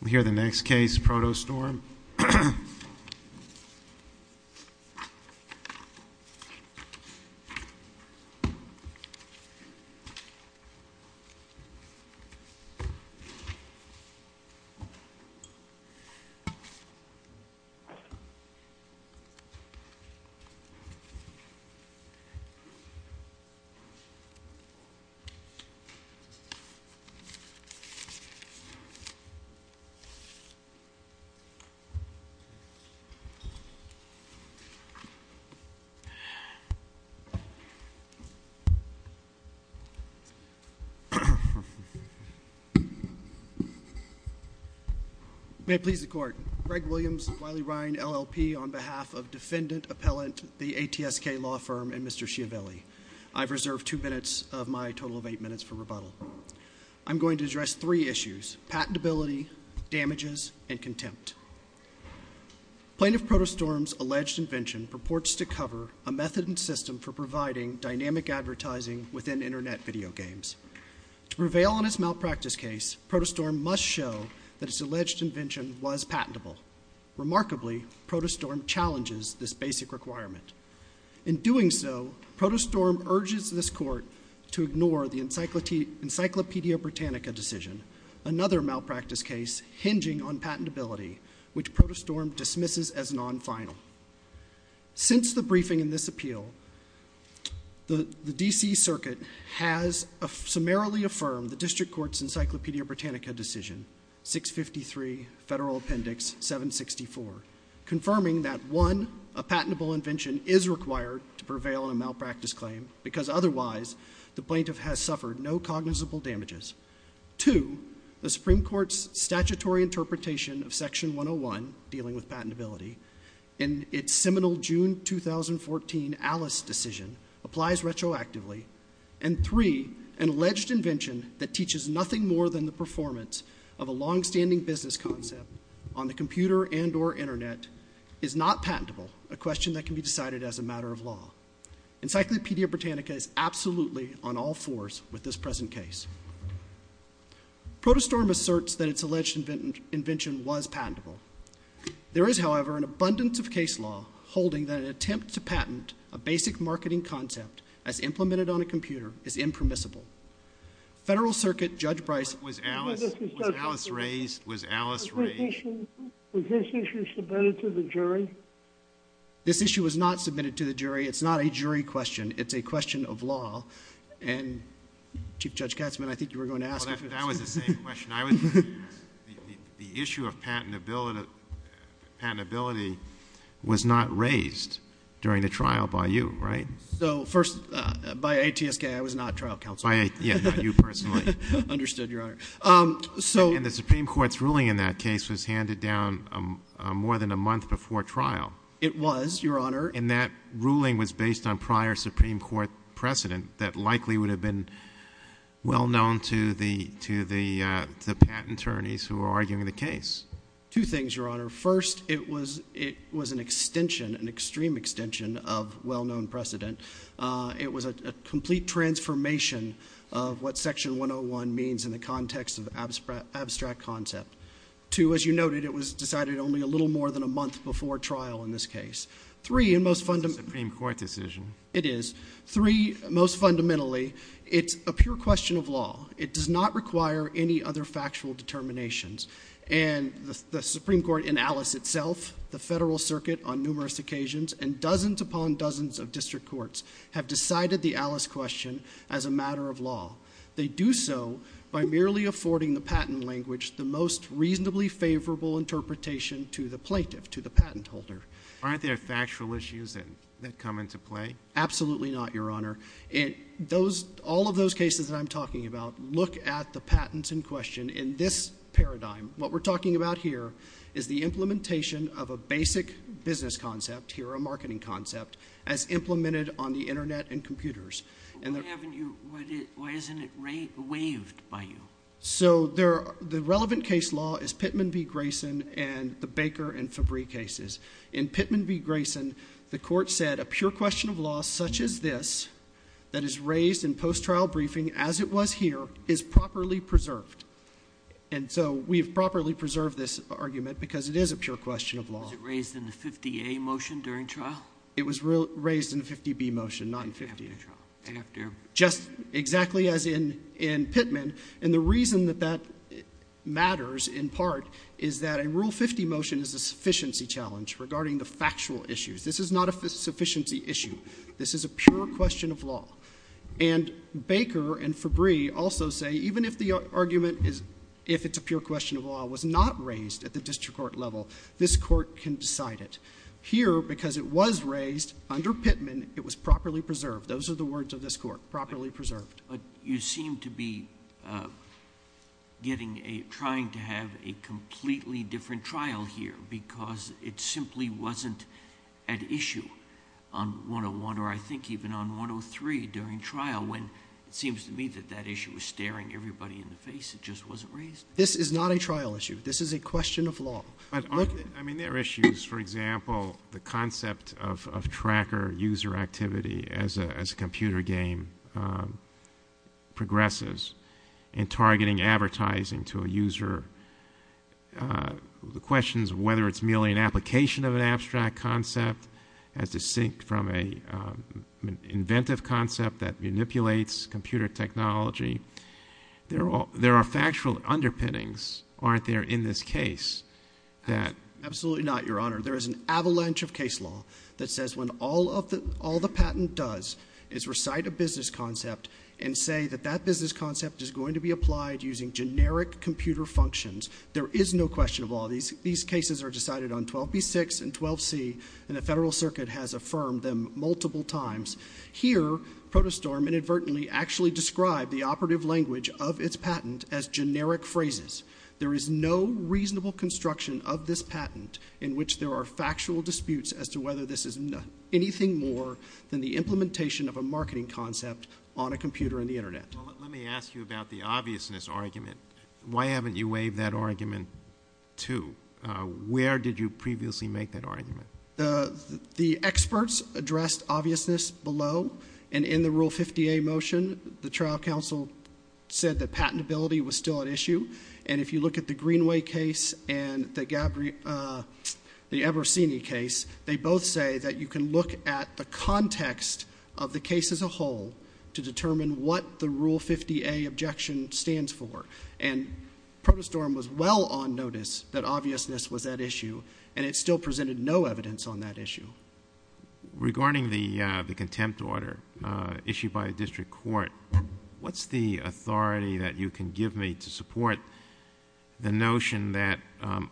We'll hear the next case, Protostorm. May it please the Court, Greg Williams, Wiley Ryan, LLP, on behalf of Defendant, Appellant, the ATSK Law Firm, and Mr. Schiavelli. I've reserved two minutes of my total of eight minutes for rebuttal. I'm going to address three issues, patentability, damages, and contempt. Plaintiff Protostorm's alleged invention purports to cover a method and system for providing dynamic advertising within Internet video games. To prevail on its malpractice case, Protostorm must show that its alleged invention was patentable. Remarkably, Protostorm challenges this basic requirement. In doing so, Protostorm urges this Court to ignore the Encyclopedia Britannica decision, another malpractice case hinging on patentability, which Protostorm dismisses as non-final. Since the briefing in this appeal, the D.C. Circuit has summarily affirmed the District Court's Encyclopedia Britannica decision, 653 Federal Appendix 764, confirming that 1. A patentable invention is required to prevail on a malpractice claim, because otherwise the plaintiff has suffered no cognizable damages. 2. The Supreme Court's statutory interpretation of Section 101 dealing with patentability in its seminal June 2014 ALICE decision applies retroactively. And 3. An alleged invention that teaches nothing more than the performance of a longstanding business concept on the computer and or Internet is not patentable, a question that can be decided as a matter of law. Encyclopedia Britannica is absolutely on all fours with this present case. Protostorm asserts that its alleged invention was patentable. There is, however, an abundance of case law holding that an attempt to patent a basic marketing concept as implemented on a computer is impermissible. Federal Circuit Judge Price Was ALICE raised? Was ALICE raised? Was this issue submitted to the jury? This issue was not submitted to the jury. It's not a jury question. It's a question of law. And Chief Judge Katzmann, I think you were going to ask That was the same question. The issue of patentability was not raised during the trial by you, right? So first, by ATSK, I was not trial counsel. By you personally. Understood, Your Honor. And the Supreme Court's ruling in that case was handed down more than a month before trial. It was, Your Honor. And that ruling was based on prior Supreme Court precedent that likely would have been well known to the patent attorneys who were arguing the case. Two things, Your Honor. First, it was an extension, an extreme extension of well-known precedent. It was a complete transformation of what Section 101 means in the context of abstract concept. Two, as you noted, it was decided only a little more than a month before trial in this case. Three, and most fundamentally It's a Supreme Court decision. It is. Three, most fundamentally, it's a pure question of law. It does not require any other factual determinations. And the Supreme Court in ALICE itself, the Federal Circuit on numerous occasions, and have decided the ALICE question as a matter of law. They do so by merely affording the patent language the most reasonably favorable interpretation to the plaintiff, to the patent holder. Aren't there factual issues that come into play? Absolutely not, Your Honor. All of those cases that I'm talking about, look at the patents in question. In this paradigm, what we're talking about here is the implementation of a basic business concept, here a marketing concept, as implemented on the Internet and computers. Why haven't you, why isn't it waived by you? So the relevant case law is Pittman v. Grayson and the Baker and Fabry cases. In Pittman v. Grayson, the Court said a pure question of law such as this, that is raised in post-trial briefing as it was here, is properly preserved. And so we've properly preserved this argument because it is a pure question of law. Was it raised in the 50A motion during trial? It was raised in the 50B motion, not in 50A. Just exactly as in Pittman. And the reason that that matters, in part, is that a Rule 50 motion is a sufficiency challenge regarding the factual issues. This is not a sufficiency issue. This is a pure question of law. And Baker and Fabry also say even if the argument is, if it's a pure question of law, was not raised at the district court level, this Court can decide it. Here, because it was raised under Pittman, it was properly preserved. Those are the words of this Court. Properly preserved. But you seem to be getting a, trying to have a completely different trial here because it simply wasn't at issue on 101, or I think even on 103 during trial, when it seems to me that that issue was staring everybody in the face, it just wasn't raised. This is not a trial issue. This is a question of law. I mean, there are issues. For example, the concept of tracker user activity as a computer game progresses and targeting advertising to a user, the questions of whether it's merely an application of an abstract concept as distinct from an inventive concept that manipulates computer technology. There are factual underpinnings. Aren't there in this case that... Absolutely not, Your Honor. There is an avalanche of case law that says when all the patent does is recite a business concept and say that that business concept is going to be applied using generic computer functions, there is no question of law. These cases are decided on 12B6 and 12C, and the Federal Circuit has affirmed them multiple times. Here, ProtoStorm inadvertently actually described the operative language of its patent as generic phrases. There is no reasonable construction of this patent in which there are factual disputes as to whether this is anything more than the implementation of a marketing concept on a computer and the Internet. Well, let me ask you about the obviousness argument. Why haven't you waived that argument, too? Where did you previously make that argument? The experts addressed obviousness below, and in the Rule 50A motion, the trial counsel said that patentability was still at issue, and if you look at the Greenway case and the Eversini case, they both say that you can look at the context of the case as a whole to determine what the Rule 50A objection stands for, and ProtoStorm was well on notice that obviousness was at issue, and it still presented no evidence on that issue. Regarding the contempt order issued by the district court, what's the authority that you can give me to support the notion that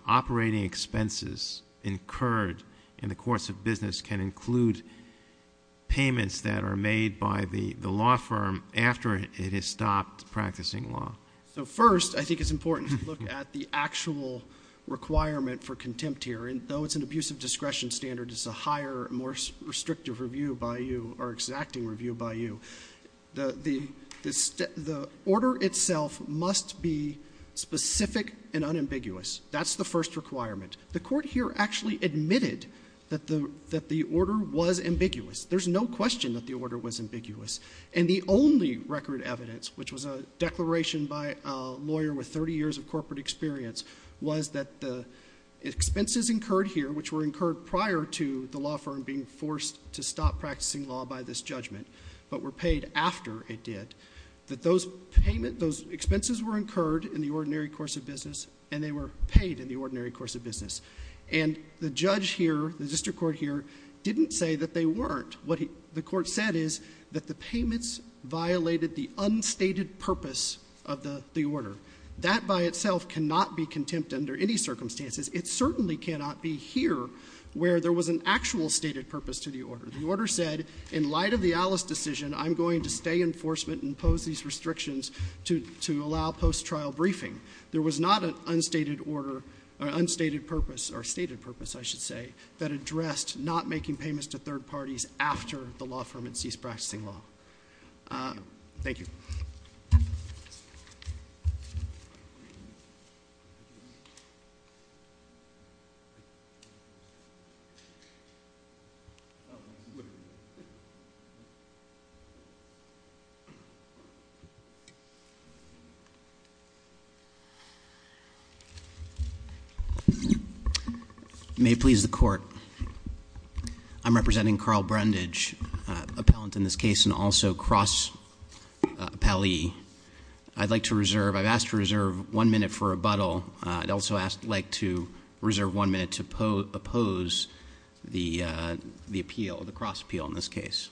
operating expenses incurred in the course of business can include payments that are made by the law firm after it has stopped practicing law? So, first, I think it's important to look at the actual requirement for contempt here, and though it's an abusive discretion standard, it's a higher, more restrictive review by you or exacting review by you. The order itself must be specific and unambiguous. That's the first requirement. The court here actually admitted that the order was ambiguous. There's no question that the order was ambiguous, and the only record evidence, which was a lawyer with 30 years of corporate experience, was that the expenses incurred here, which were incurred prior to the law firm being forced to stop practicing law by this judgment, but were paid after it did, that those expenses were incurred in the ordinary course of business, and they were paid in the ordinary course of business. The judge here, the district court here, didn't say that they weren't. What the court said is that the payments violated the unstated purpose of the order. That by itself cannot be contempt under any circumstances. It certainly cannot be here, where there was an actual stated purpose to the order. The order said, in light of the Alice decision, I'm going to stay in enforcement and impose these restrictions to allow post-trial briefing. There was not an unstated purpose or stated purpose, I should say, that addressed not making payments to third parties after the law firm had ceased practicing law. Thank you. May it please the court, I'm representing Carl Brundage, appellant in this case, and also cross-appellee in this case. I'd like to reserve, I've asked to reserve one minute for rebuttal. I'd also like to reserve one minute to oppose the appeal, the cross-appeal in this case.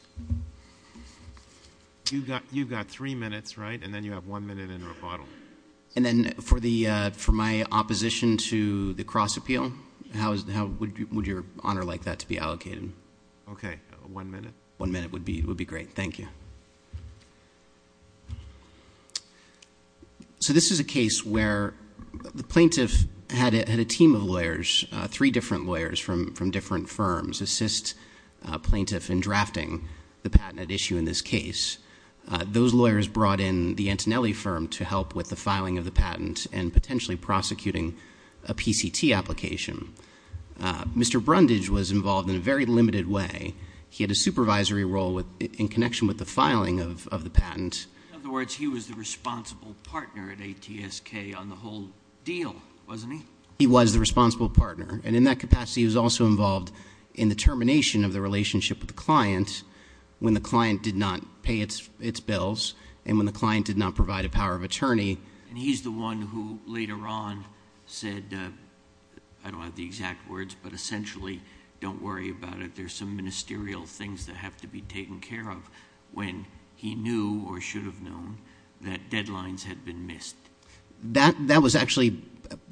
You've got three minutes, right? And then you have one minute in rebuttal. And then for my opposition to the cross-appeal, how would your honor like that to be allocated? Okay, one minute. One minute would be great. Thank you. So this is a case where the plaintiff had a team of lawyers, three different lawyers from different firms, assist plaintiff in drafting the patent at issue in this case. Those lawyers brought in the Antonelli firm to help with the filing of the patent and potentially prosecuting a PCT application. Mr. Brundage was involved in a very limited way. He had a supervisory role in connection with the filing of the patent. In other words, he was the responsible partner at ATSK on the whole deal, wasn't he? He was the responsible partner. And in that capacity, he was also involved in the termination of the relationship with the client when the client did not pay its bills and when the client did not provide a power of attorney. And he's the one who later on said, I don't have the exact words, but essentially, don't worry about it. There's some ministerial things that have to be taken care of when he knew or should have known that deadlines had been missed. That was actually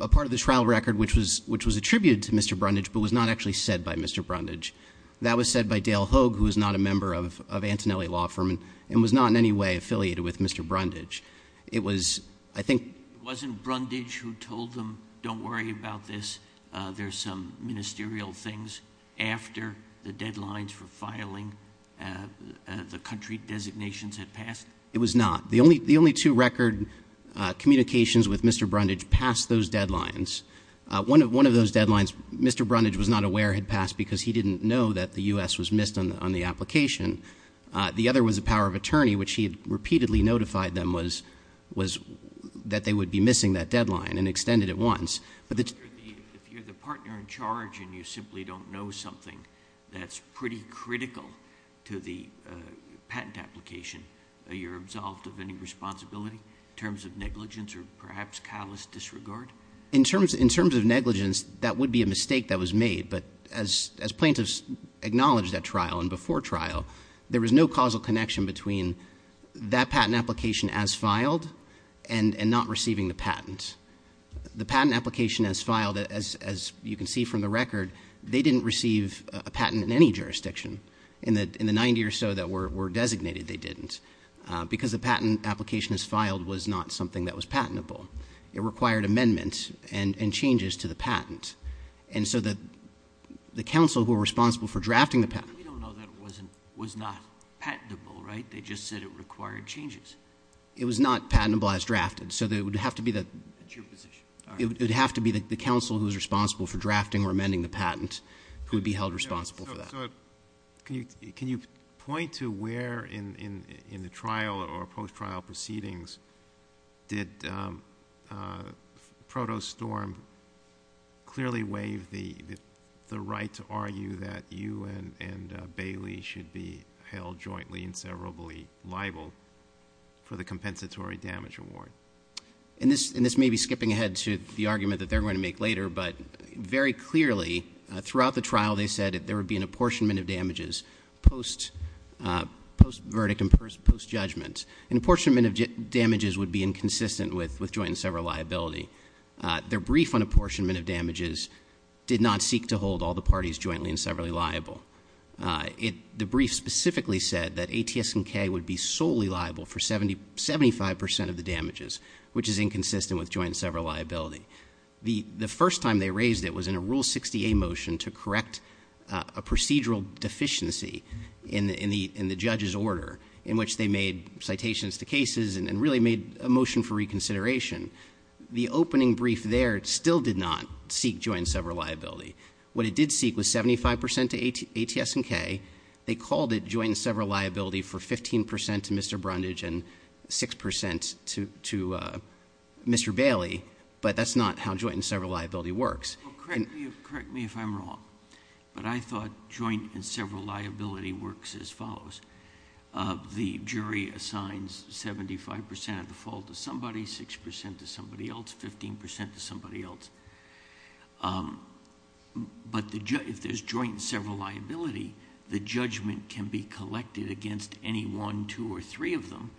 a part of the trial record which was attributed to Mr. Brundage, but was not actually said by Mr. Brundage. That was said by Dale Hoag, who is not a member of Antonelli Law Firm and was not in any way affiliated with Mr. Brundage. It was, I think- It wasn't Brundage who told them, don't worry about this. There's some ministerial things after the deadlines for filing the country designations had passed. It was not. The only two record communications with Mr. Brundage passed those deadlines. One of those deadlines, Mr. Brundage was not aware had passed because he didn't know that the US was missed on the application. The other was a power of attorney, which he had repeatedly notified them was that they would be missing that deadline and extended it once. But the- If you're the partner in charge and you simply don't know something that's pretty critical to the patent application, you're absolved of any responsibility in terms of negligence or perhaps callous disregard? In terms of negligence, that would be a mistake that was made. But as plaintiffs acknowledged at trial and before trial, there was no causal connection between that patent application as filed and not receiving the patent. The patent application as filed, as you can see from the record, they didn't receive a patent in any jurisdiction. In the 90 or so that were designated, they didn't, because the patent application as filed was not something that was patentable. It required amendments and changes to the patent. And so the counsel who were responsible for drafting the patent- We don't know that it was not patentable, right? They just said it required changes. It was not patentable as drafted, so it would have to be the- It's your position. It would have to be the counsel who's responsible for drafting or amending the patent who would be held responsible for that. So, can you point to where in the trial or post-trial proceedings did Proto Storm clearly waive the right to argue that you and for the compensatory damage award? And this may be skipping ahead to the argument that they're going to make later, but very clearly throughout the trial, they said that there would be an apportionment of damages post-verdict and post-judgment. An apportionment of damages would be inconsistent with joint and several liability. Their brief on apportionment of damages did not seek to hold all the parties jointly and severally liable. The brief specifically said that ATS and K would be solely liable for 75% of the damages, which is inconsistent with joint and several liability. The first time they raised it was in a Rule 60A motion to correct a procedural deficiency in the judge's order in which they made citations to cases and really made a motion for reconsideration. The opening brief there still did not seek joint and several liability. What it did seek was 75% to ATS and K. They called it joint and several liability for 15% to Mr. Brundage and 6% to Mr. Bailey. But that's not how joint and several liability works. Correct me if I'm wrong, but I thought joint and several liability works as follows. The jury assigns 75% of the fault to somebody, 6% to somebody else, 15% to somebody else. But if there's joint and several liability, the judgment can be collected against any one, two, or three of them.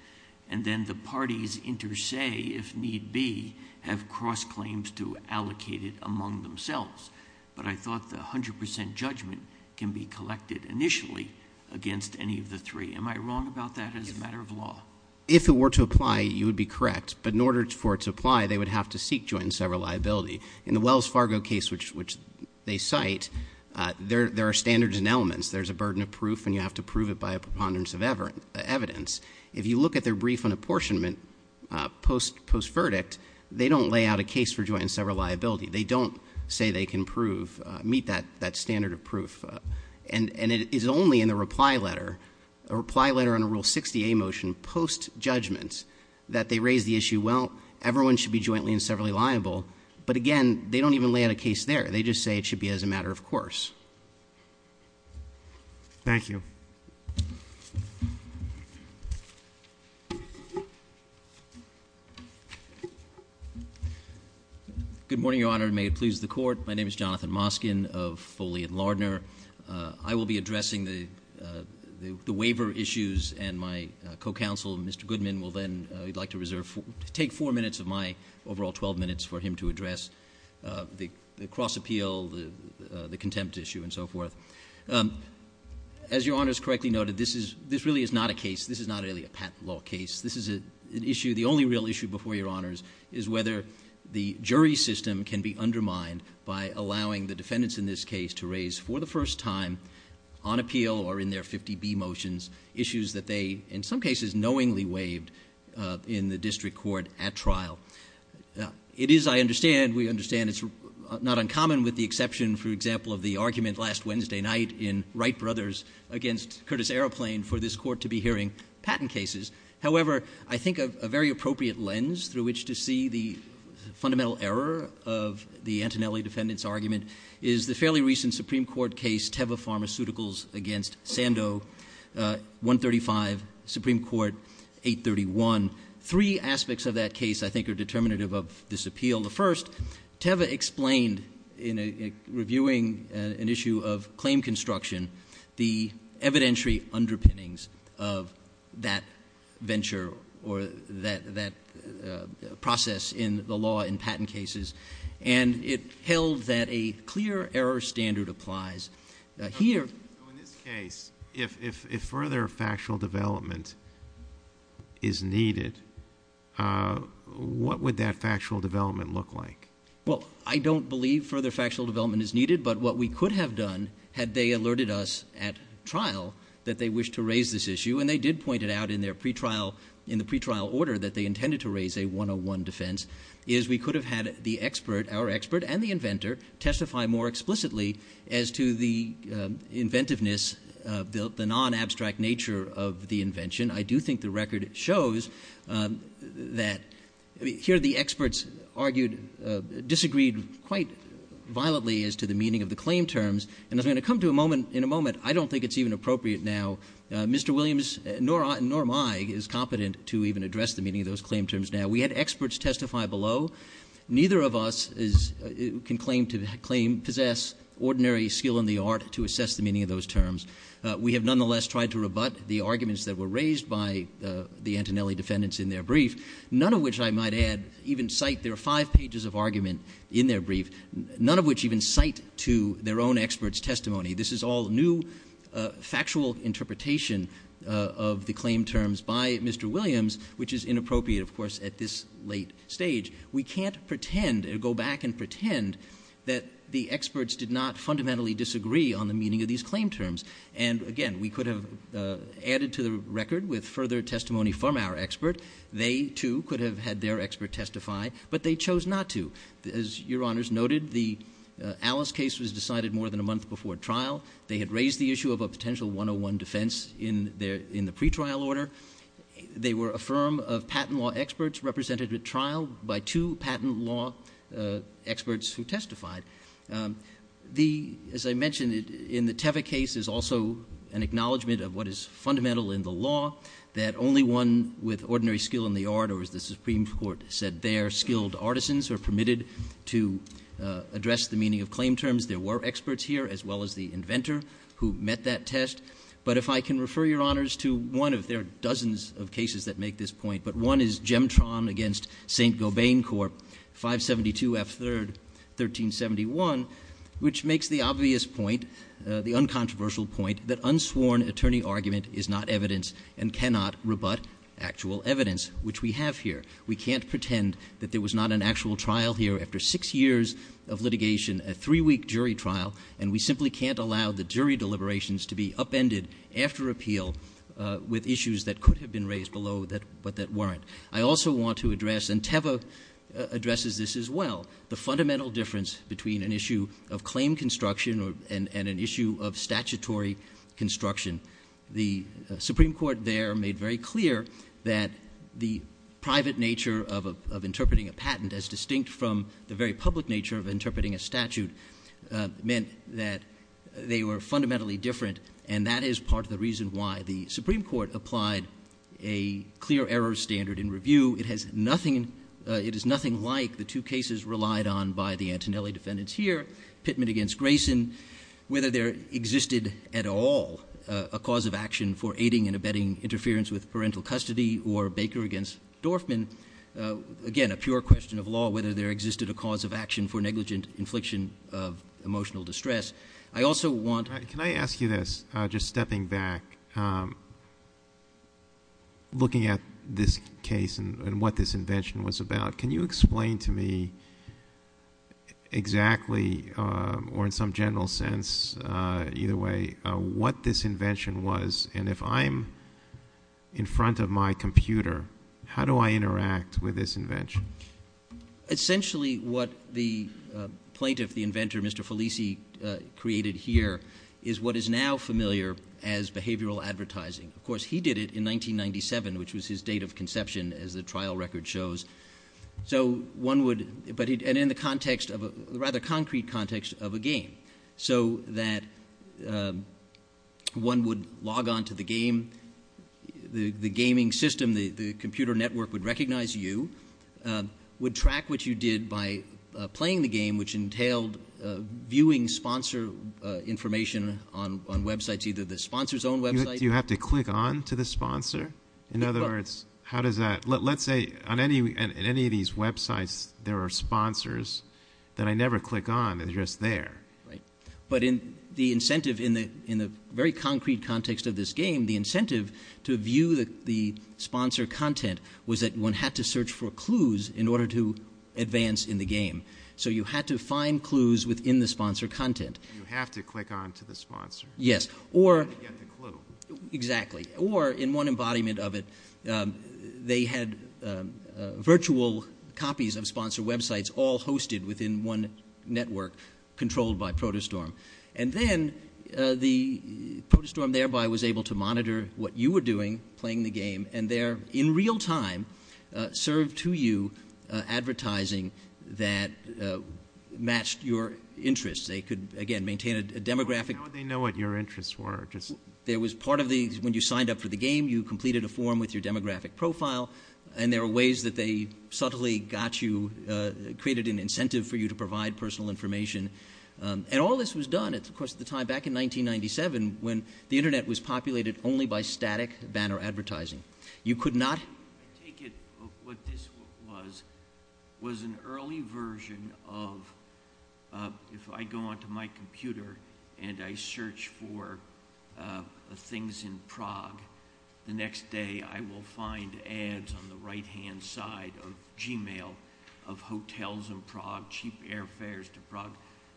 And then the parties inter se, if need be, have cross claims to allocate it among themselves. But I thought the 100% judgment can be collected initially against any of the three. Am I wrong about that as a matter of law? If it were to apply, you would be correct. But in order for it to apply, they would have to seek joint and several liability. In the Wells Fargo case, which they cite, there are standards and elements. There's a burden of proof, and you have to prove it by a preponderance of evidence. If you look at their brief on apportionment post-verdict, they don't lay out a case for joint and several liability. They don't say they can prove, meet that standard of proof. And it is only in the reply letter, a reply letter on a Rule 60A motion post-judgment, that they raise the issue, well, everyone should be jointly and severally liable. But again, they don't even lay out a case there. They just say it should be as a matter of course. Thank you. Good morning, Your Honor, and may it please the court. My name is Jonathan Moskin of Foley and Lardner. I will be addressing the waiver issues, and my co-counsel, Mr. Goodman, will then take four minutes of my overall 12 minutes for him to address the cross-appeal, the contempt issue, and so forth. As Your Honors correctly noted, this really is not a case, this is not really a patent law case. This is an issue, the only real issue before Your Honors, is whether the jury system can be undermined by allowing the defendants in this case to raise for the first time on appeal or in their 50B motions issues that they, in some cases, knowingly waived in the district court at trial. It is, I understand, we understand it's not uncommon with the exception, for example, of the argument last Wednesday night in Wright Brothers against Curtis Aeroplane for this court to be hearing patent cases. However, I think a very appropriate lens through which to see the fundamental error of the Antonelli defendant's argument is the fairly recent Supreme Court case, Teva Pharmaceuticals against Sando, 135, Supreme Court 831. Three aspects of that case, I think, are determinative of this appeal. The first, Teva explained, in reviewing an issue of claim construction, the evidentiary underpinnings of that venture, or that process in the law in patent cases. And it held that a clear error standard applies. Here- So in this case, if further factual development is needed, what would that factual development look like? Well, I don't believe further factual development is needed, but what we could have done had they alerted us at trial that they wished to raise this issue. And they did point it out in their pretrial, in the pretrial order that they intended to raise a 101 defense, is we could have had the expert, our expert and the inventor, testify more explicitly as to the inventiveness, the non-abstract nature of the invention. I do think the record shows that, here the experts argued, disagreed quite violently as to the meaning of the claim terms. And as I'm going to come to in a moment, I don't think it's even appropriate now. Mr. Williams, nor am I, is competent to even address the meaning of those claim terms now. We had experts testify below. Neither of us can claim to possess ordinary skill in the art to assess the meaning of those terms. We have nonetheless tried to rebut the arguments that were raised by the Antonelli defendants in their brief. None of which I might add, even cite, there are five pages of argument in their brief. None of which even cite to their own expert's testimony. This is all new, factual interpretation of the claim terms by Mr. Williams, which is inappropriate, of course, at this late stage. We can't pretend, or go back and pretend, that the experts did not fundamentally disagree on the meaning of these claim terms. And again, we could have added to the record with further testimony from our expert. They, too, could have had their expert testify, but they chose not to. As your honors noted, the Alice case was decided more than a month before trial. They had raised the issue of a potential 101 defense in the pretrial order. They were a firm of patent law experts represented at trial by two patent law experts who testified. As I mentioned, in the Teva case is also an acknowledgment of what is fundamental in the law. That only one with ordinary skill in the art, or as the Supreme Court said there, skilled artisans are permitted to address the meaning of claim terms. There were experts here, as well as the inventor who met that test. But if I can refer your honors to one of their dozens of cases that make this point. But one is Gemtron against St. Gobain Corp, 572 F 3rd, 1371. Which makes the obvious point, the uncontroversial point, that unsworn attorney argument is not evidence and cannot rebut actual evidence, which we have here. We can't pretend that there was not an actual trial here after six years of litigation, a three week jury trial. And we simply can't allow the jury deliberations to be upended after appeal with issues that could have been raised below, but that weren't. I also want to address, and Teva addresses this as well, the fundamental difference between an issue of claim construction and an issue of statutory construction. The Supreme Court there made very clear that the private nature of interpreting a patent, as distinct from the very public nature of interpreting a statute, meant that they were fundamentally different. And that is part of the reason why the Supreme Court applied a clear error standard in review. It is nothing like the two cases relied on by the Antonelli defendants here. Pittman against Grayson, whether there existed at all a cause of action for aiding and abetting interference with parental custody, or Baker against Dorfman. Again, a pure question of law, whether there existed a cause of action for negligent infliction of emotional distress. I also want- Can I ask you this, just stepping back, looking at this case and what this invention was about. Can you explain to me exactly, or in some general sense, either way, what this invention was, and if I'm in front of my computer, how do I interact with this invention? Essentially, what the plaintiff, the inventor, Mr. Felici, created here is what is now familiar as behavioral advertising. Of course, he did it in 1997, which was his date of conception, as the trial record shows. So one would, and in the context of a rather concrete context of a game. So that one would log on to the game, the gaming system, the computer network would recognize you, would track what you did by playing the game, which entailed viewing sponsor information on websites, either the sponsor's own website- Do you have to click on to the sponsor? In other words, how does that, let's say on any of these websites, there are sponsors that I never click on, they're just there. Right, but in the incentive, in the very concrete context of this game, the incentive to view the sponsor content was that one had to search for clues in order to advance in the game. So you had to find clues within the sponsor content. You have to click on to the sponsor. Yes, or- To get the clue. Exactly, or in one embodiment of it, they had virtual copies of sponsor websites all hosted within one network, controlled by Protostorm. And then, Protostorm thereby was able to monitor what you were doing, playing the game, and there, in real time, served to you advertising that matched your interests. They could, again, maintain a demographic- How would they know what your interests were? There was part of the, when you signed up for the game, you completed a form with your demographic profile, and there were ways that they subtly got you, created an incentive for you to provide personal information. And all this was done, of course, at the time, back in 1997, when the Internet was populated only by static banner advertising. You could not- I take it what this was, was an early version of, if I go onto my computer and I search for things in Prague, the next day I will find ads on the right-hand side of Gmail of hotels in Prague, cheap airfares to Prague,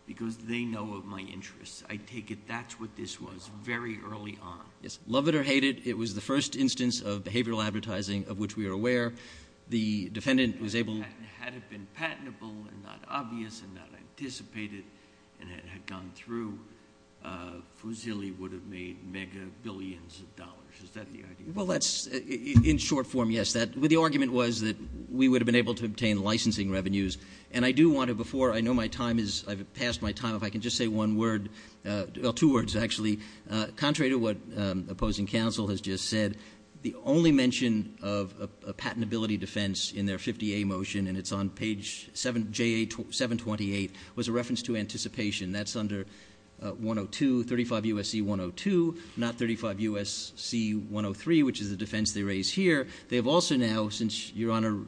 because they know of my interests. I take it that's what this was, very early on. Yes, love it or hate it, it was the first instance of behavioral advertising of which we are aware. The defendant was able- and had gone through, Fusili would have made mega billions of dollars. Is that the idea? Well, that's, in short form, yes. The argument was that we would have been able to obtain licensing revenues. And I do want to, before, I know my time is, I've passed my time, if I can just say one word, well, two words, actually. Contrary to what opposing counsel has just said, the only mention of a patentability defense in their 50A motion, and it's on page 7, J.A. 728, was a reference to anticipation. That's under 102, 35 U.S.C. 102, not 35 U.S.C. 103, which is the defense they raise here. They have also now, since Your Honor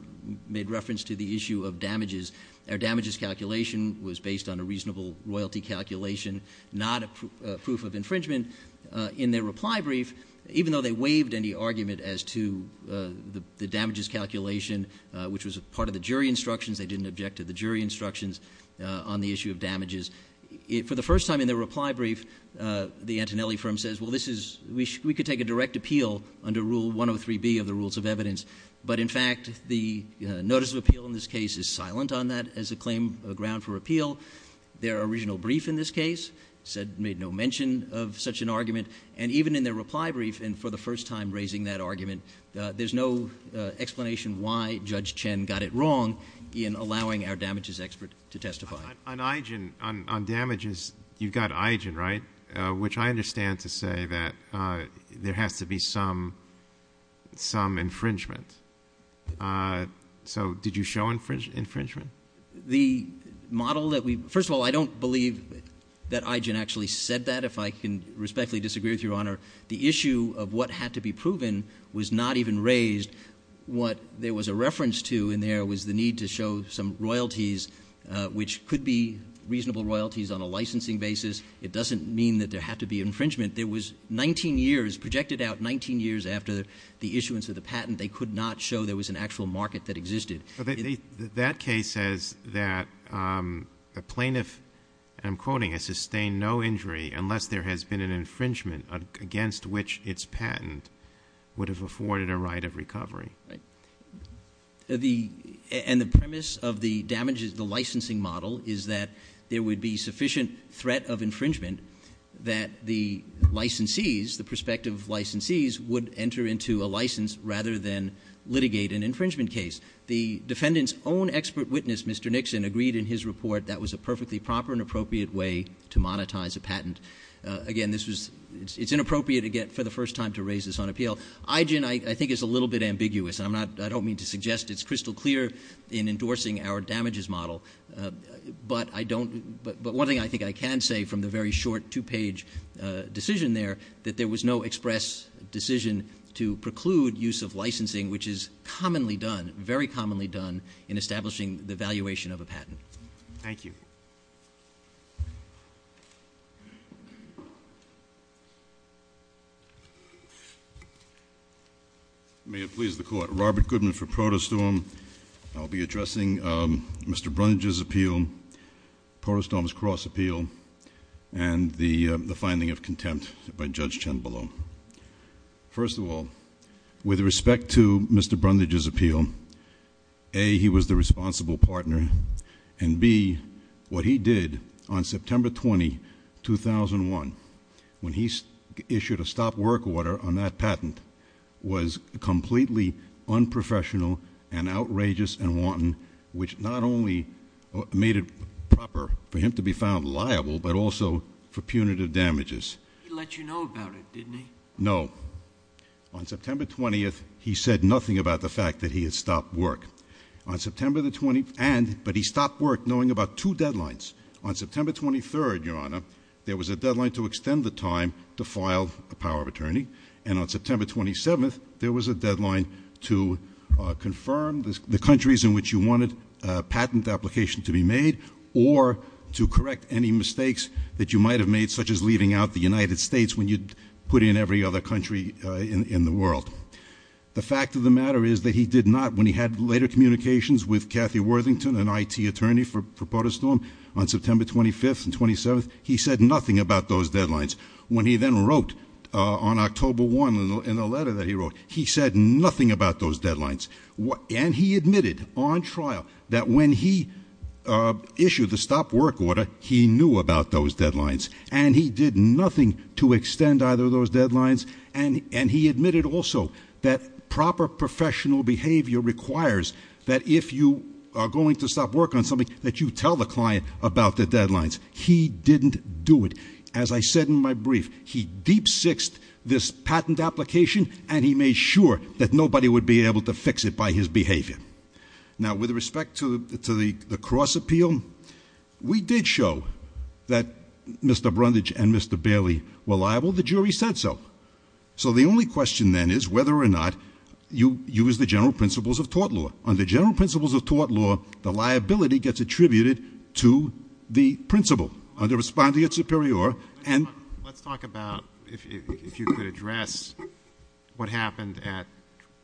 made reference to the issue of damages, their damages calculation was based on a reasonable royalty calculation, not a proof of infringement. In their reply brief, even though they waived any argument as to the damages calculation, which was part of the jury instructions, they didn't object to the jury instructions on the issue of damages, for the first time in their reply brief, the Antonelli firm says, well, this is, we could take a direct appeal under Rule 103B of the Rules of Evidence. But, in fact, the notice of appeal in this case is silent on that as a claim, a ground for appeal. Their original brief in this case said, made no mention of such an argument, and even in their reply brief, and for the first time raising that argument, there's no explanation why Judge Chen got it wrong in allowing our damages expert to testify. On IGEN, on damages, you've got IGEN, right? Which I understand to say that there has to be some infringement. So did you show infringement? The model that we, first of all, I don't believe that IGEN actually said that, if I can respectfully disagree with Your Honor. The issue of what had to be proven was not even raised. What there was a reference to in there was the need to show some royalties, which could be reasonable royalties on a licensing basis. It doesn't mean that there had to be infringement. There was 19 years, projected out 19 years after the issuance of the patent, they could not show there was an actual market that existed. That case says that a plaintiff, and I'm quoting, has sustained no injury unless there has been an infringement against which its patent would have afforded a right of recovery. And the premise of the licensing model is that there would be sufficient threat of infringement that the licensees, the prospective licensees, would enter into a license rather than litigate an infringement case. The defendant's own expert witness, Mr. Nixon, agreed in his report that was a perfectly proper and appropriate way to monetize a patent. Again, it's inappropriate, again, for the first time to raise this on appeal. IGEN, I think, is a little bit ambiguous. I don't mean to suggest it's crystal clear in endorsing our damages model. But one thing I think I can say from the very short two-page decision there, that there was no express decision to preclude use of licensing, which is commonly done, very commonly done, in establishing the valuation of a patent. Thank you. May it please the Court. Robert Goodman for ProtoStorm. I'll be addressing Mr. Brundage's appeal, ProtoStorm's cross appeal, and the finding of contempt by Judge Cianbolo. First of all, with respect to Mr. Brundage's appeal, A, he was the responsible partner, and B, what he did on September 20, 2001, when he issued a stop work order on that patent, was completely unprofessional and outrageous and wanton, which not only made it proper for him to be found liable, but also for punitive damages. He let you know about it, didn't he? No. On September 20th, he said nothing about the fact that he had stopped work. On September the 20th, and, but he stopped work knowing about two deadlines. On September 23rd, Your Honor, there was a deadline to extend the time to file a power of attorney, and on September 27th, there was a deadline to confirm the countries in which you wanted a patent application to be made, or to correct any mistakes that you might have made, such as leaving out the United States, when you'd put in every other country in the world. The fact of the matter is that he did not, when he had later communications with Kathy Worthington, an IT attorney for ProtoStorm, on September 25th and 27th, he said nothing about those deadlines. When he then wrote on October 1 in the letter that he wrote, he said nothing about those deadlines, and he admitted on trial that when he issued the stop work order, he knew about those deadlines, and he did nothing to extend either of those deadlines, and he admitted also that proper professional behavior requires that if you are going to stop work on something, that you tell the client about the deadlines. He didn't do it. As I said in my brief, he deep-sixed this patent application, and he made sure that nobody would be able to fix it by his behavior. Now, with respect to the cross-appeal, we did show that Mr. Brundage and Mr. Bailey were liable. The jury said so. So the only question then is whether or not you use the general principles of tort law. Under general principles of tort law, the liability gets attributed to the principal. Under respondeat superior, and- Let's talk about if you could address what happened at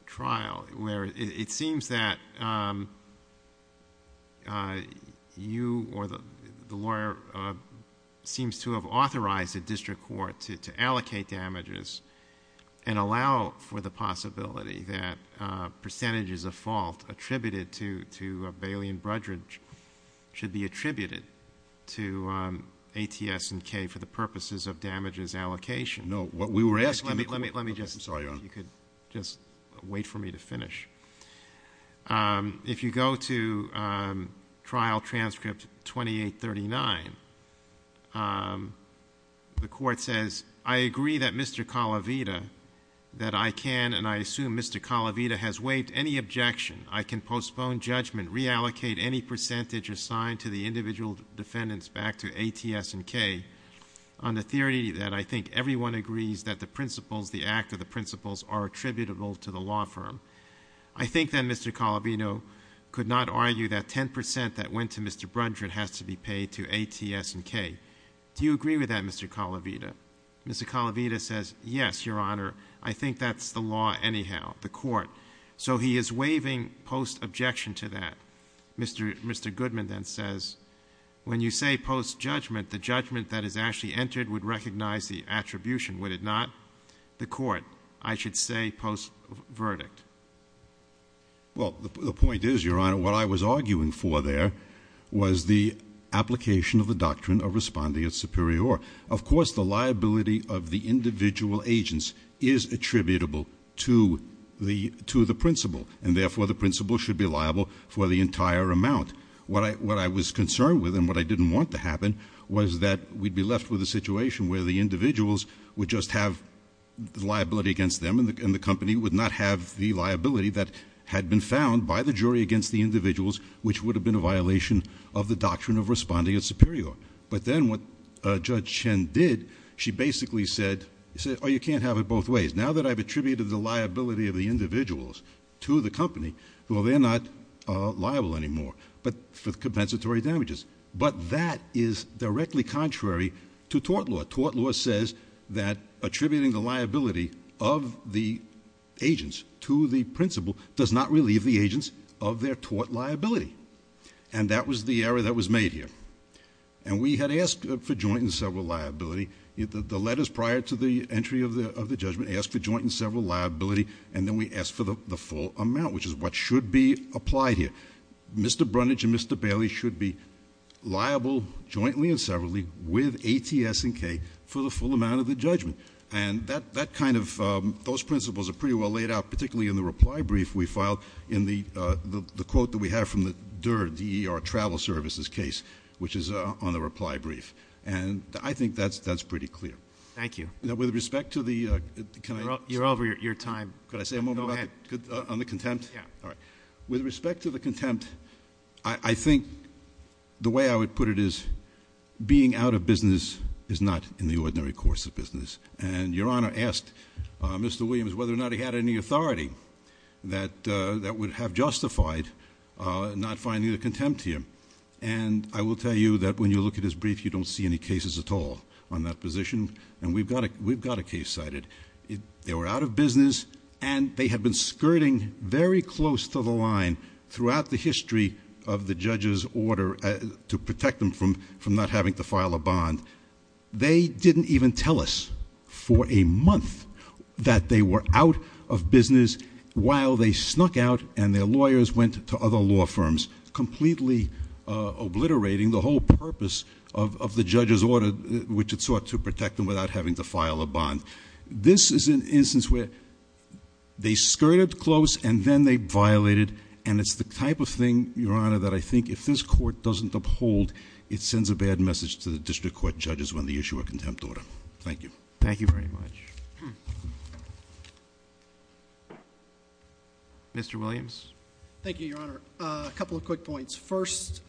trial, where it seems that you or the lawyer seems to have authorized a district court to allocate damages and allow for the possibility that percentages of fault attributed to Bailey and Brundage should be attributed to ATS and K for the purposes of damages allocation. No, what we were asking- Let me just- I'm sorry, Your Honor. If you could just wait for me to finish. If you go to trial transcript 2839, the court says, I agree that Mr. Calavita, that I can and I assume Mr. Calavita has waived any objection. I can postpone judgment, reallocate any percentage assigned to the individual defendants back to ATS and K on the theory that I think everyone agrees that the principles, are attributable to the law firm. I think that Mr. Calavita could not argue that 10% that went to Mr. Brundage has to be paid to ATS and K. Do you agree with that, Mr. Calavita? Mr. Calavita says, yes, Your Honor. I think that's the law anyhow, the court. So he is waiving post-objection to that. Mr. Goodman then says, when you say post-judgment, the judgment that is actually entered would recognize the attribution, would it not? The court, I should say post-verdict. Well, the point is, Your Honor, what I was arguing for there, was the application of the doctrine of respondeat superior. Of course, the liability of the individual agents is attributable to the principle. And therefore, the principle should be liable for the entire amount. What I was concerned with and what I didn't want to happen, was that we'd be left with a situation where the individuals would just have liability against them, and the company would not have the liability that had been found by the jury against the individuals, which would have been a violation of the doctrine of respondeat superior. But then what Judge Chen did, she basically said, you can't have it both ways. Now that I've attributed the liability of the individuals to the company, well, they're not liable anymore for compensatory damages. But that is directly contrary to tort law. Tort law says that attributing the liability of the agents to the principle does not relieve the agents of their tort liability. And that was the error that was made here. And we had asked for joint and several liability. The letters prior to the entry of the judgment asked for joint and several liability, and then we asked for the full amount, which is what should be applied here. Mr. Brunage and Mr. Bailey should be liable jointly and severally with ATS&K for the full amount of the judgment. And that kind of, those principles are pretty well laid out, particularly in the reply brief we filed in the quote that we have from the DER, D-E-R, travel services case, which is on the reply brief. And I think that's pretty clear. Thank you. Now, with respect to the, can I- You're over your time. Could I say a moment on the contempt? Yeah. All right. With respect to the contempt, I think the way I would put it is being out of business is not in the ordinary course of business. And Your Honor asked Mr. Williams whether or not he had any authority that would have justified not finding the contempt here. And I will tell you that when you look at his brief, you don't see any cases at all on that position. And we've got a case cited. They were out of business and they had been skirting very close to the line throughout the history of the judge's order to protect them from not having to file a bond. They didn't even tell us for a month that they were out of business while they snuck out and their lawyers went to other law firms, completely obliterating the whole purpose of the judge's order, which it sought to protect them without having to file a bond. This is an instance where they skirted close and then they violated. And it's the type of thing, Your Honor, that I think if this court doesn't uphold, it sends a bad message to the district court judges when they issue a contempt order. Thank you. Thank you very much. Mr. Williams? Thank you, Your Honor. A couple of quick points. First,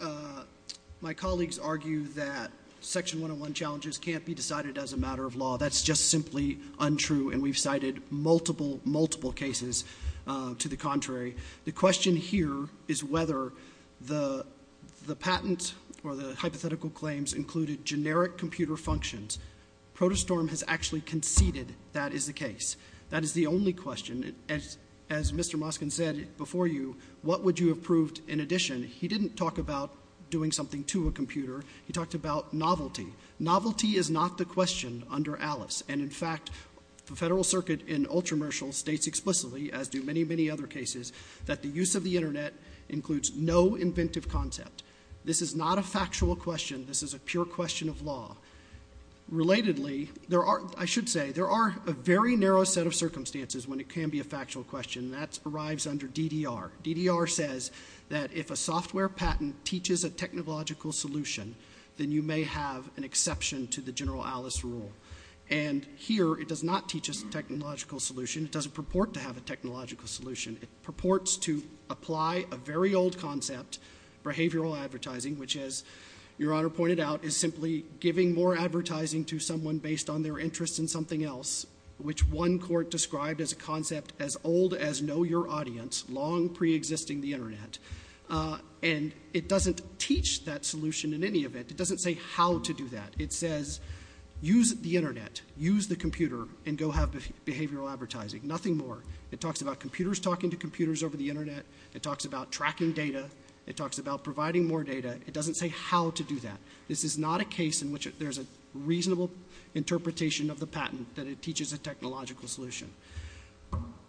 my colleagues argue that Section 101 challenges can't be decided as a matter of law. That's just simply untrue, and we've cited multiple, multiple cases to the contrary. The question here is whether the patent or the hypothetical claims included generic computer functions. ProtoStorm has actually conceded that is the case. That is the only question. As Mr. Moskin said before you, what would you have proved in addition? He didn't talk about doing something to a computer. He talked about novelty. Novelty is not the question under Alice. And, in fact, the Federal Circuit in Ultramercial states explicitly, as do many, many other cases, that the use of the Internet includes no inventive concept. This is not a factual question. This is a pure question of law. Relatedly, there are, I should say, there are a very narrow set of circumstances when it can be a factual question, and that arrives under DDR. DDR says that if a software patent teaches a technological solution, then you may have an exception to the general Alice rule. And here, it does not teach us a technological solution. It doesn't purport to have a technological solution. It purports to apply a very old concept, behavioral advertising, which, as Your Honor pointed out, is simply giving more advertising to someone based on their interest in something else, which one court described as a concept as old as know your audience, long preexisting the Internet. And it doesn't teach that solution in any event. It doesn't say how to do that. It says use the Internet, use the computer, and go have behavioral advertising. Nothing more. It talks about computers talking to computers over the Internet. It talks about tracking data. It talks about providing more data. It doesn't say how to do that. This is not a case in which there's a reasonable interpretation of the patent that it teaches a technological solution.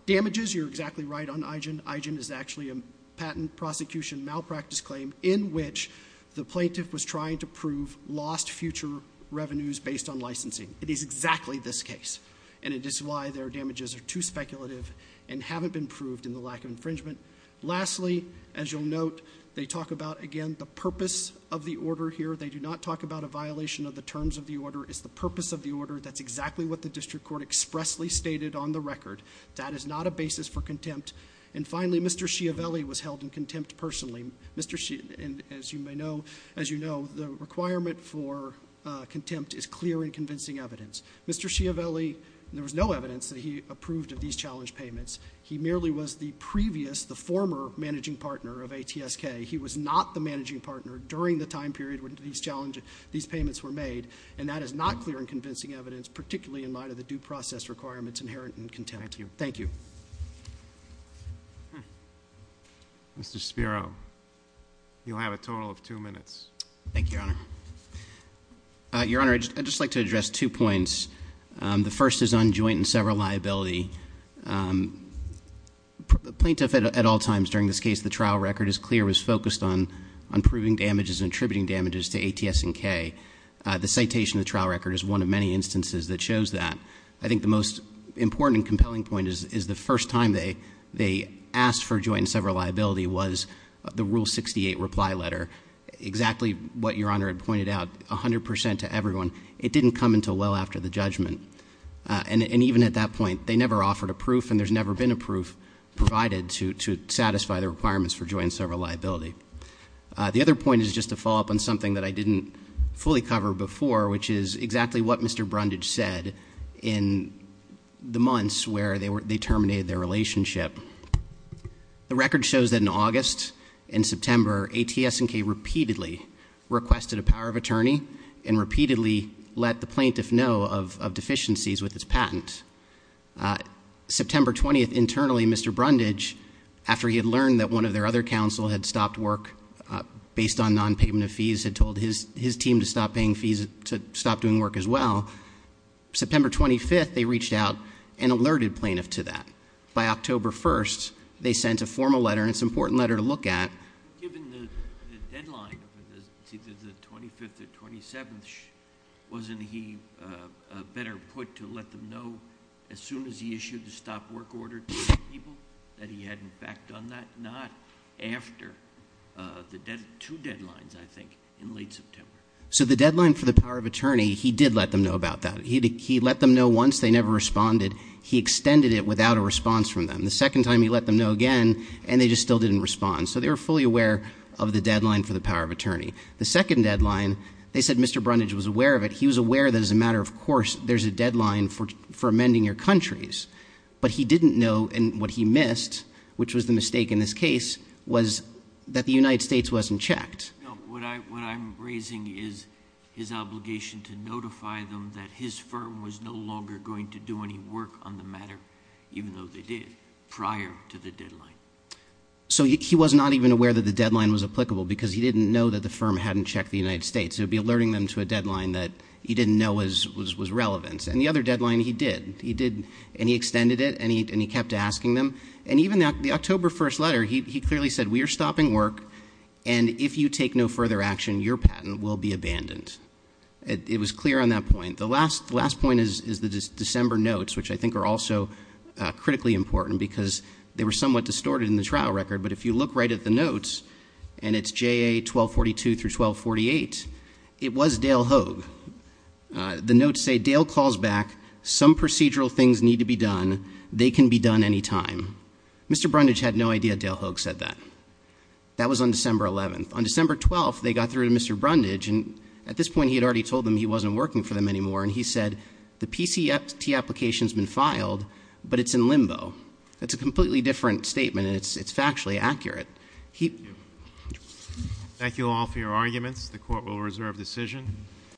Damages, you're exactly right on IGEN. IGEN is actually a patent prosecution malpractice claim in which the plaintiff was trying to prove lost future revenues based on licensing. It is exactly this case. And it is why their damages are too speculative and haven't been proved in the lack of infringement. Lastly, as you'll note, they talk about, again, the purpose of the order here. They do not talk about a violation of the terms of the order. It's the purpose of the order. That's exactly what the district court expressly stated on the record. That is not a basis for contempt. And finally, Mr. Schiavelli was held in contempt personally. And as you may know, as you know, the requirement for contempt is clear and convincing evidence. Mr. Schiavelli, there was no evidence that he approved of these challenge payments. He merely was the previous, the former managing partner of ATSK. He was not the managing partner during the time period when these payments were made. And that is not clear and convincing evidence, particularly in light of the due process requirements inherent in contempt. Thank you. Mr. Spiro, you'll have a total of two minutes. Thank you, Your Honor. Your Honor, I'd just like to address two points. The first is on joint and several liability. Plaintiff at all times during this case, the trial record is clear, was focused on proving damages and attributing damages to ATS and K. The citation of the trial record is one of many instances that shows that. I think the most important and compelling point is the first time they asked for joint and several liability was the Rule 68 reply letter. Exactly what Your Honor had pointed out, 100% to everyone. It didn't come until well after the judgment. And even at that point, they never offered a proof and there's never been a proof provided to satisfy the requirements for joint and several liability. The other point is just to follow up on something that I didn't fully cover before, which is exactly what Mr. Brundage said in the months where they terminated their relationship. The record shows that in August and September, ATS and K repeatedly requested a power of attorney and repeatedly let the plaintiff know of deficiencies with his patent. September 20th, internally, Mr. Brundage, after he had learned that one of their other counsel had stopped work based on non-payment of fees, had told his team to stop paying fees to stop doing work as well. September 25th, they reached out and alerted plaintiff to that. By October 1st, they sent a formal letter, and it's an important letter to look at. Given the deadline, the 25th or 27th, wasn't he better put to let them know as soon as he issued the stop work order to people, that he had, in fact, done that? Not after the two deadlines, I think, in late September. So the deadline for the power of attorney, he did let them know about that. He let them know once. They never responded. He extended it without a response from them. The second time, he let them know again, and they just still didn't respond. So they were fully aware of the deadline for the power of attorney. The second deadline, they said Mr. Brundage was aware of it. He was aware that, as a matter of course, there's a deadline for amending your countries. But he didn't know, and what he missed, which was the mistake in this case, was that the United States wasn't checked. What I'm raising is his obligation to notify them that his firm was no longer going to do any work on the matter, even though they did, prior to the deadline. So he was not even aware that the deadline was applicable because he didn't know that the firm hadn't checked the United States. He would be alerting them to a deadline that he didn't know was relevant. And the other deadline, he did. He did, and he extended it, and he kept asking them. And even the October 1st letter, he clearly said we are stopping work, and if you take no further action, your patent will be abandoned. It was clear on that point. The last point is the December notes, which I think are also critically important because they were somewhat distorted in the trial record. But if you look right at the notes, and it's JA 1242 through 1248, it was Dale Hogue. The notes say, Dale calls back. Some procedural things need to be done. They can be done any time. Mr. Brundage had no idea Dale Hogue said that. That was on December 11th. On December 12th, they got through to Mr. Brundage, and at this point, he had already told them he wasn't working for them anymore. And he said, the PCFT application's been filed, but it's in limbo. That's a completely different statement, and it's factually accurate. Thank you all for your arguments. The court will reserve decision.